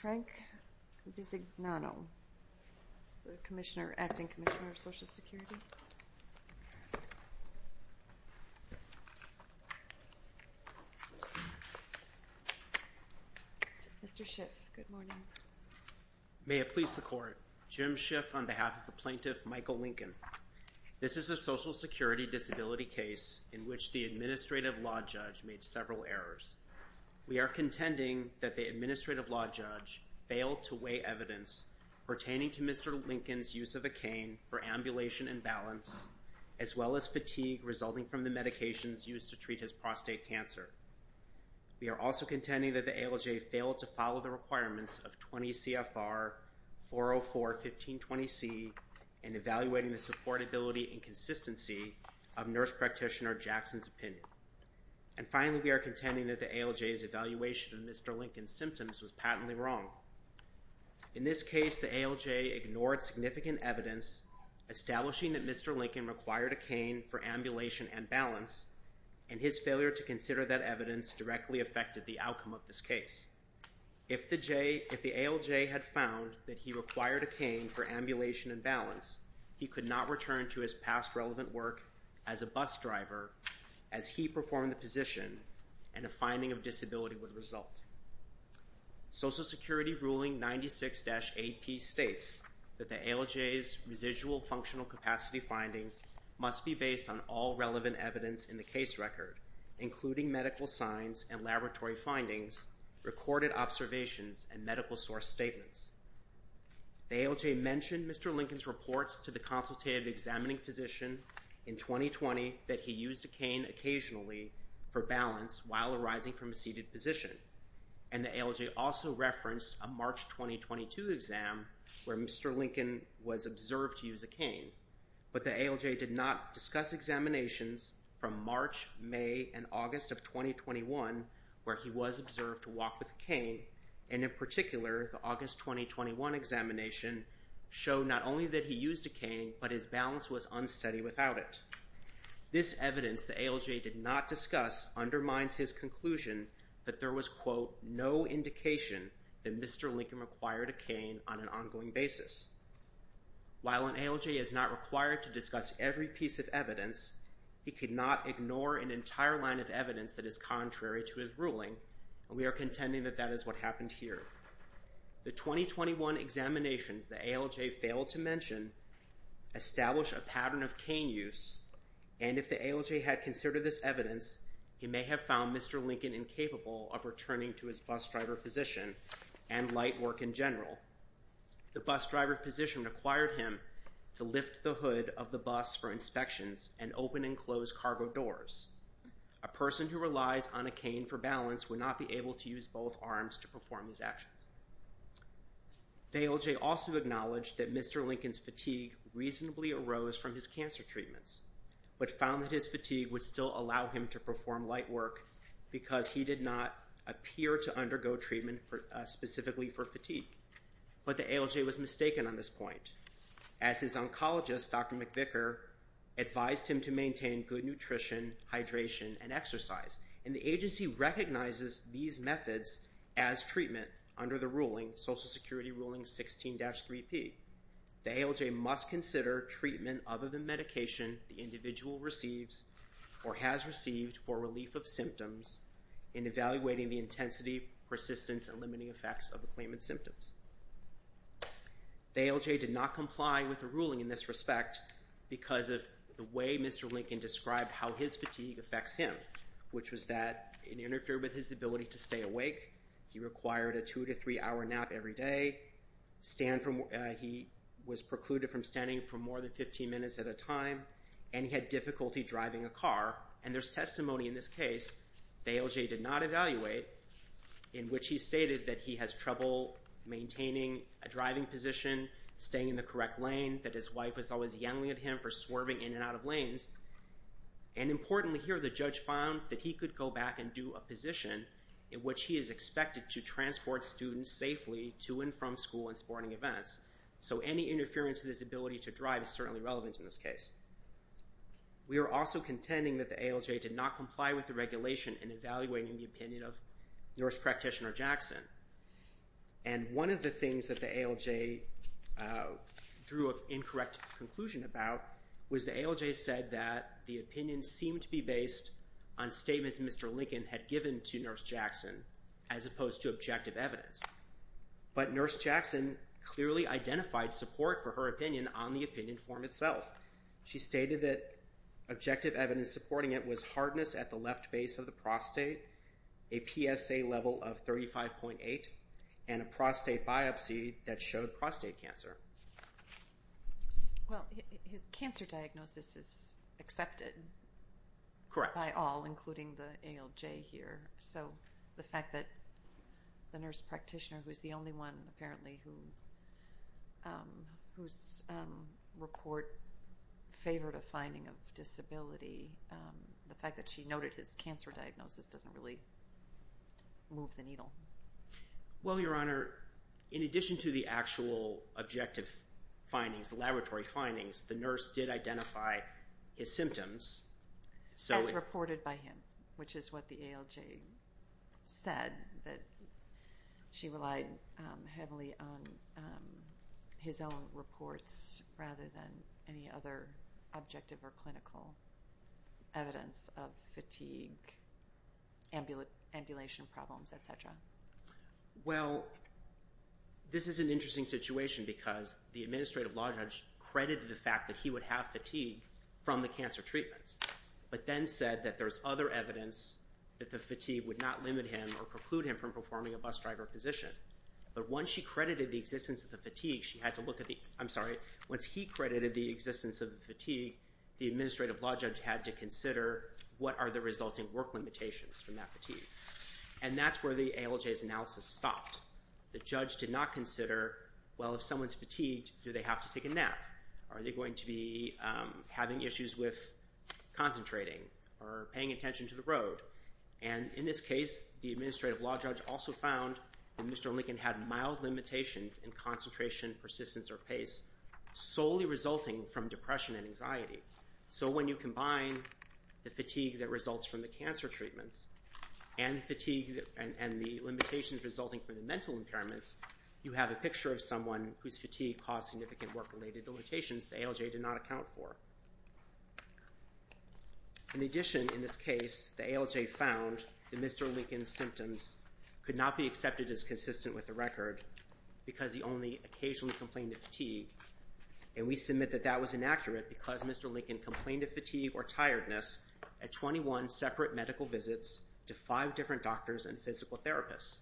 Frank Bisignano, Acting Commissioner of Social Security. Mr. Schiff, good morning. May it please the Court, Jim Schiff on behalf of the plaintiff Michael Lincoln. This is a Social Security disability case in which the administrative law judge made several errors. We are contending that the administrative law judge failed to weigh evidence pertaining to Mr. Lincoln's use of a cane for ambulation and balance, as well as fatigue resulting from the medications used to treat his prostate cancer. We are also contending that the ALJ failed to follow the requirements of 20 CFR 404-1520C in evaluating the supportability and consistency of nurse practitioner Jackson's opinion. And finally, we are contending that the ALJ's evaluation of Mr. Lincoln's symptoms was patently wrong. In this case, the ALJ ignored significant evidence establishing that Mr. Lincoln required a cane for ambulation and balance, and his failure to consider that evidence directly affected the outcome of this case. If the ALJ had found that he required a cane for ambulation and balance, he could not return to his past relevant work as a bus driver as he performed the position, and a finding of disability would result. Social Security Ruling 96-AP states that the ALJ's residual functional capacity finding must be based on all relevant evidence in the case record, including medical signs and laboratory findings, recorded observations, and medical source statements. The ALJ mentioned Mr. Lincoln's reports to the consultative examining physician in 2020 that he used a cane occasionally for balance while arising from a seated position, and the ALJ also referenced a March 2022 exam where Mr. Lincoln was observed to use a cane, but the ALJ did not discuss examinations from March, May, and August of 2021 where he was observed to walk with a cane, and in particular, the August 2021 examination showed not only that he used a cane, but his balance was unsteady without it. This evidence the ALJ did not discuss undermines his conclusion that there was, quote, no indication that Mr. Lincoln required a cane on an ongoing basis. While an ALJ is not required to discuss every piece of evidence, he could not ignore an entire line of evidence that is contrary to his ruling, and we are contending that that is what happened here. The 2021 examinations the ALJ failed to mention establish a pattern of cane use, and if the ALJ had considered this evidence, he may have found Mr. Lincoln incapable of returning to his bus driver position and light work in general. The bus driver position required him to lift the hood of the bus for inspections and open and close cargo doors. A person who relies on a cane for balance would not be able to use both arms to perform these actions. The ALJ also acknowledged that Mr. Lincoln's fatigue reasonably arose from his cancer treatments, but found that his fatigue would still allow him to perform light work because he did not appear to undergo treatment specifically for fatigue, but the ALJ was mistaken on this point. As his oncologist, Dr. McVicker, advised him to maintain good nutrition, hydration, and exercise, and the agency recognizes these methods as treatment under the ruling, Social Security Ruling 16-3P. The ALJ must consider treatment other than medication the individual receives or has received for relief of symptoms in evaluating the intensity, persistence, and limiting effects of the claimant's symptoms. The ALJ did not comply with the ruling in this respect because of the way Mr. Lincoln described how his fatigue affects him, which was that it interfered with his ability to stay awake, he required a two- to three-hour nap every day, he was precluded from standing for more than 15 minutes at a time, and he had difficulty driving a car, and there's testimony in this case the ALJ did not evaluate in which he stated that he has trouble maintaining a driving position, staying in the correct lane, that his wife was always yelling at him for swerving in and out of lanes, and importantly here the judge found that he could go back and do a position in which he is expected to transport students safely to and from school and sporting events, so any interference with his ability to drive is certainly relevant in this case. We are also contending that the ALJ did not comply with the regulation in evaluating the opinion of nurse practitioner Jackson, and one of the things that the ALJ drew an incorrect conclusion about was the ALJ said that the opinion seemed to be based on statements Mr. Lincoln had given to nurse Jackson as opposed to objective evidence, but nurse Jackson clearly identified support for her opinion on the opinion form itself. She stated that objective evidence supporting it was hardness at the left base of the prostate, a PSA level of 35.8, and a prostate biopsy that showed prostate cancer. Well, his cancer diagnosis is accepted by all, including the ALJ here, so the fact that the nurse practitioner, who is the only one apparently whose report favored a finding of disability, the fact that she noted his cancer diagnosis doesn't really move the needle. Well, Your Honor, in addition to the actual objective findings, the laboratory findings, the nurse did identify his symptoms. As reported by him, which is what the ALJ said, that she relied heavily on his own reports rather than any other objective or clinical evidence of fatigue, ambulation problems, etc. Well, this is an interesting situation because the administrative law judge credited the fact that he would have fatigue from the cancer treatments, but then said that there's other evidence that the fatigue would not limit him or preclude him from performing a bus driver position. But once she credited the existence of the fatigue, she had to look at the—I'm sorry, once he credited the existence of the fatigue, the administrative law judge had to consider what are the resulting work limitations from that fatigue. And that's where the ALJ's analysis stopped. The judge did not consider, well, if someone's fatigued, do they have to take a nap? Are they going to be having issues with concentrating or paying attention to the road? And in this case, the administrative law judge also found that Mr. Lincoln had mild limitations in concentration, persistence, or pace solely resulting from depression and anxiety. So when you combine the fatigue that results from the cancer treatments and the fatigue and the limitations resulting from the mental impairments, you have a picture of someone whose fatigue caused significant work-related limitations the ALJ did not account for. In addition, in this case, the ALJ found that Mr. Lincoln's symptoms could not be accepted as consistent with the record because he only occasionally complained of fatigue. And we submit that that was inaccurate because Mr. Lincoln complained of fatigue or tiredness at 21 separate medical visits to five different doctors and physical therapists.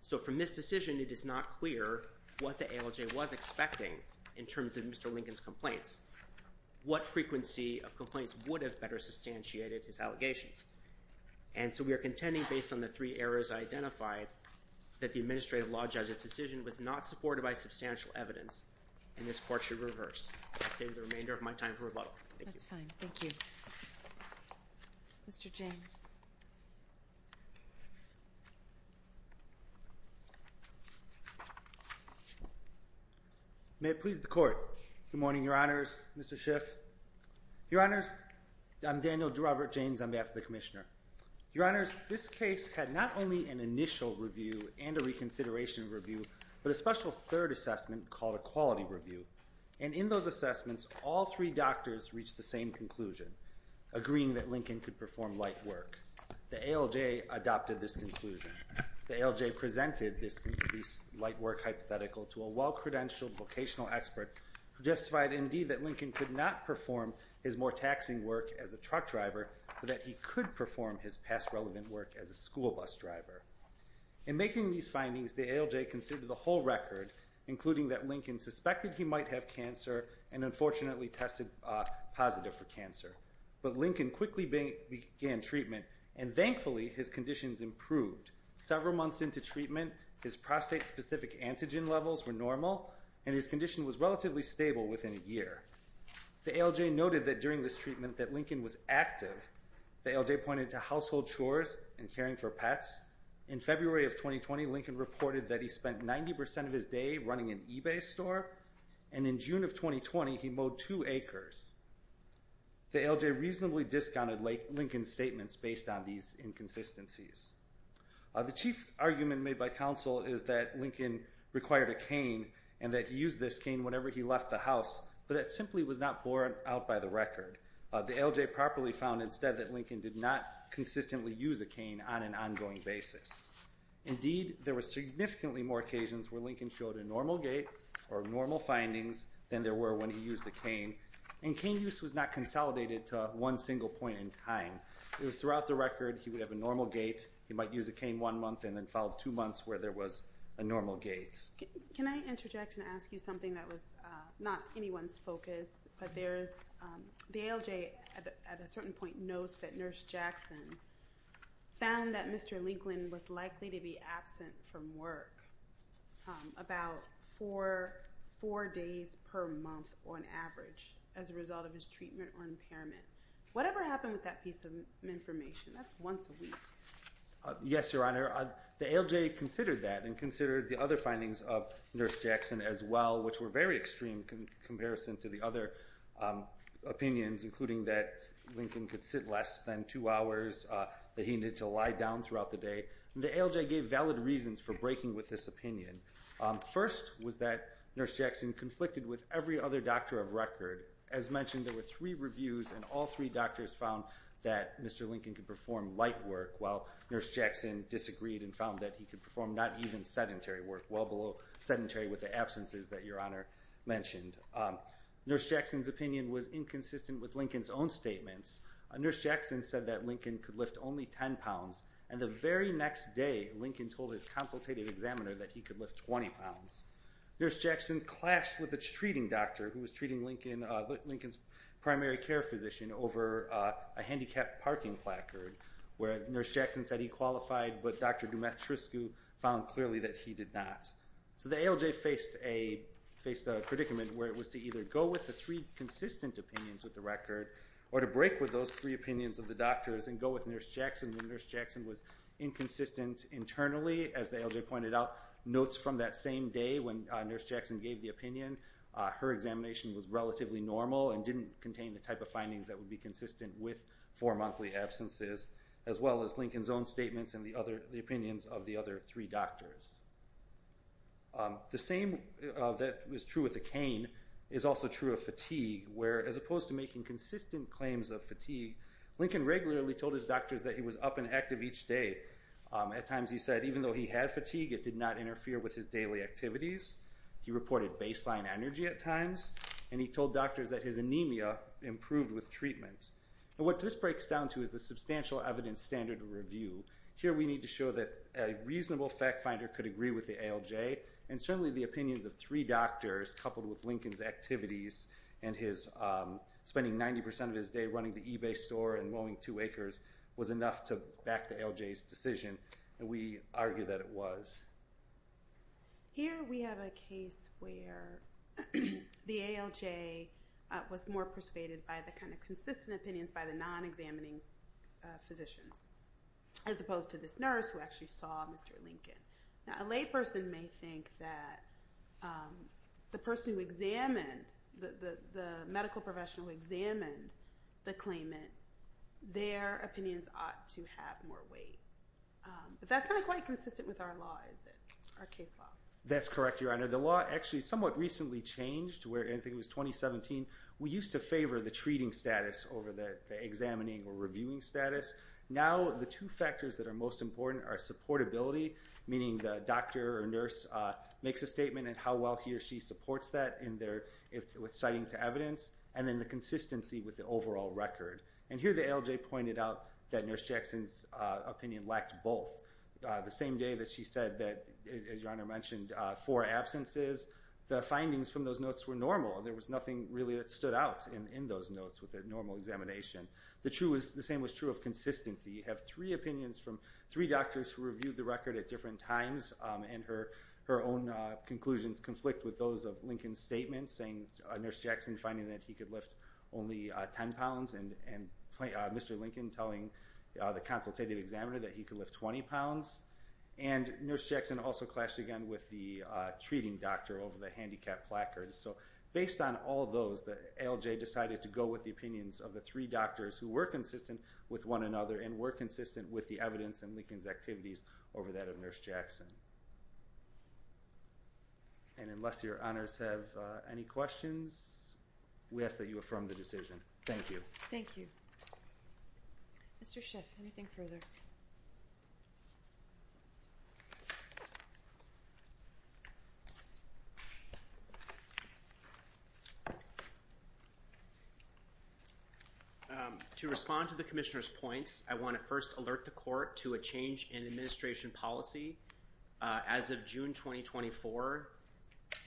So from this decision, it is not clear what the ALJ was expecting in terms of Mr. Lincoln's complaints. What frequency of complaints would have better substantiated his allegations? And so we are contending, based on the three errors I identified, that the administrative law judge's decision was not supported by substantial evidence, and this court should reverse. I'll save the remainder of my time for rebuttal. Thank you. That's fine. Thank you. Mr. James. May it please the Court. Good morning, Your Honors. Mr. Schiff. Your Honors, I'm Daniel Robert James on behalf of the Commissioner. Your Honors, this case had not only an initial review and a reconsideration review, but a special third assessment called a quality review. And in those assessments, all three doctors reached the same conclusion, agreeing that Lincoln could perform light work. The ALJ adopted this conclusion. The ALJ presented this light work hypothetical to a well-credentialed vocational expert who justified indeed that Lincoln could not perform his more taxing work as a truck driver, but that he could perform his past relevant work as a school bus driver. In making these findings, the ALJ considered the whole record, including that Lincoln suspected he might have cancer and unfortunately tested positive for cancer. But Lincoln quickly began treatment, and thankfully his conditions improved. Several months into treatment, his prostate-specific antigen levels were normal, and his condition was relatively stable within a year. The ALJ noted that during this treatment that Lincoln was active. The ALJ pointed to household chores and caring for pets. In February of 2020, Lincoln reported that he spent 90% of his day running an eBay store, and in June of 2020, he mowed two acres. The ALJ reasonably discounted Lincoln's statements based on these inconsistencies. The chief argument made by counsel is that Lincoln required a cane and that he used this cane whenever he left the house, but that simply was not borne out by the record. The ALJ properly found instead that Lincoln did not consistently use a cane on an ongoing basis. Indeed, there were significantly more occasions where Lincoln showed a normal gait or normal findings than there were when he used a cane, and cane use was not consolidated to one single point in time. It was throughout the record he would have a normal gait, he might use a cane one month, and then follow two months where there was a normal gait. Can I interject and ask you something that was not anyone's focus, but the ALJ at a certain point notes that Nurse Jackson found that Mr. Lincoln was likely to be absent from work about four days per month on average as a result of his treatment or impairment. Whatever happened with that piece of information? That's once a week. Yes, Your Honor. The ALJ considered that and considered the other findings of Nurse Jackson as well, which were very extreme in comparison to the other opinions, including that Lincoln could sit less than two hours, that he needed to lie down throughout the day. The ALJ gave valid reasons for breaking with this opinion. First was that Nurse Jackson conflicted with every other doctor of record. As mentioned, there were three reviews, and all three doctors found that Mr. Lincoln could perform light work, while Nurse Jackson disagreed and found that he could perform not even sedentary work, well below sedentary with the absences that Your Honor mentioned. Nurse Jackson's opinion was inconsistent with Lincoln's own statements. Nurse Jackson said that Lincoln could lift only 10 pounds, and the very next day Lincoln told his consultative examiner that he could lift 20 pounds. Nurse Jackson clashed with a treating doctor who was treating Lincoln's primary care physician over a handicapped parking placard, where Nurse Jackson said he qualified, but Dr. Dumetrescu found clearly that he did not. So the ALJ faced a predicament where it was to either go with the three consistent opinions of the record, or to break with those three opinions of the doctors and go with Nurse Jackson when Nurse Jackson was inconsistent internally. As the ALJ pointed out, notes from that same day when Nurse Jackson gave the opinion, her examination was relatively normal and didn't contain the type of findings that would be consistent with four monthly absences. As well as Lincoln's own statements and the opinions of the other three doctors. The same that was true with the cane is also true of fatigue, where as opposed to making consistent claims of fatigue, Lincoln regularly told his doctors that he was up and active each day. At times he said even though he had fatigue, it did not interfere with his daily activities. He reported baseline energy at times, and he told doctors that his anemia improved with treatment. What this breaks down to is a substantial evidence standard review. Here we need to show that a reasonable fact finder could agree with the ALJ, and certainly the opinions of three doctors coupled with Lincoln's activities and spending 90% of his day running the eBay store and mowing two acres was enough to back the ALJ's decision. We argue that it was. Here we have a case where the ALJ was more persuaded by the consistent opinions by the non-examining physicians, as opposed to this nurse who actually saw Mr. Lincoln. A layperson may think that the person who examined, the medical professional who examined the claimant, their opinions ought to have more weight. But that's not quite consistent with our law, is it, our case law? That's correct, Your Honor. The law actually somewhat recently changed to where I think it was 2017. We used to favor the treating status over the examining or reviewing status. Now the two factors that are most important are supportability, meaning the doctor or nurse makes a statement on how well he or she supports that with citing to evidence, and then the consistency with the overall record. And here the ALJ pointed out that Nurse Jackson's opinion lacked both. The same day that she said that, as Your Honor mentioned, four absences, the findings from those notes were normal. There was nothing really that stood out in those notes with a normal examination. The same was true of consistency. You have three opinions from three doctors who reviewed the record at different times, and her own conclusions conflict with those of Lincoln's statement, saying Nurse Jackson finding that he could lift only 10 pounds, and Mr. Lincoln telling the consultative examiner that he could lift 20 pounds. And Nurse Jackson also clashed again with the treating doctor over the handicap placard. So based on all those, the ALJ decided to go with the opinions of the three doctors who were consistent with one another and were consistent with the evidence in Lincoln's activities over that of Nurse Jackson. And unless Your Honors have any questions, we ask that you affirm the decision. Thank you. Thank you. Mr. Schiff, anything further? To respond to the Commissioner's points, I want to first alert the Court to a change in administration policy. As of June 2024,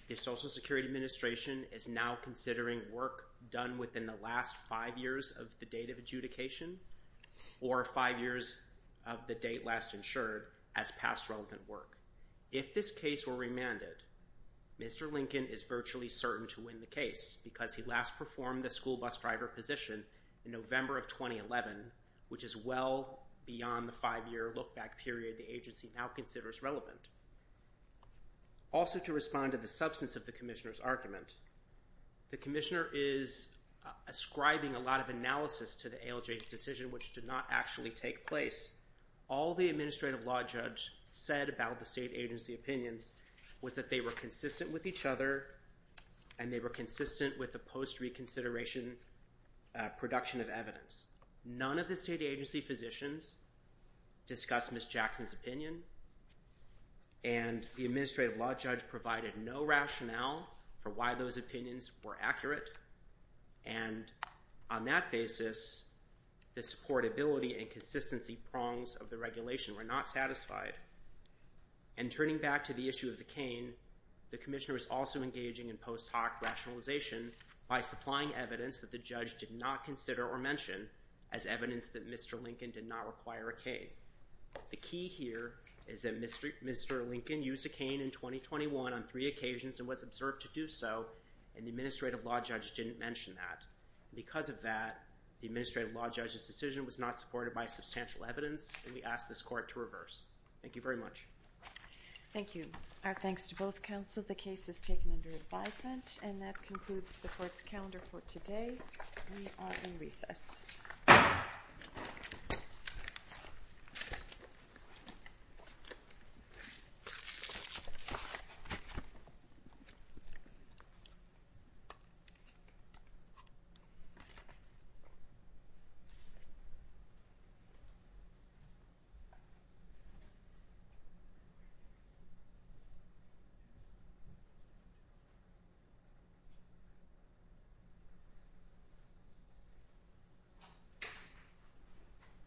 the Social Security Administration is now considering work done within the last five years of the date of adjudication or five years of the date last insured as past relevant work. If this case were remanded, Mr. Lincoln is virtually certain to win the case because he last performed the school bus driver position in November of 2011, which is well beyond the five-year look-back period the agency now considers relevant. Also to respond to the substance of the Commissioner's argument, the Commissioner is ascribing a lot of analysis to the ALJ's decision, which did not actually take place. All the administrative law judge said about the state agency opinions was that they were consistent with each other and they were consistent with the post-reconsideration production of evidence. None of the state agency physicians discussed Ms. Jackson's opinion, and the administrative law judge provided no rationale for why those opinions were accurate. And on that basis, the supportability and consistency prongs of the regulation were not satisfied. And turning back to the issue of the cane, the Commissioner is also engaging in post-hoc rationalization by supplying evidence that the judge did not consider or mention as evidence that Mr. Lincoln did not require a cane. The key here is that Mr. Lincoln used a cane in 2021 on three occasions and was observed to do so, and the administrative law judge didn't mention that. Because of that, the administrative law judge's decision was not supported by substantial evidence, and we ask this Court to reverse. Thank you very much. Thank you. Our thanks to both counsel. The case is taken under advisement. And that concludes the Court's calendar for today. We are in recess. Thank you.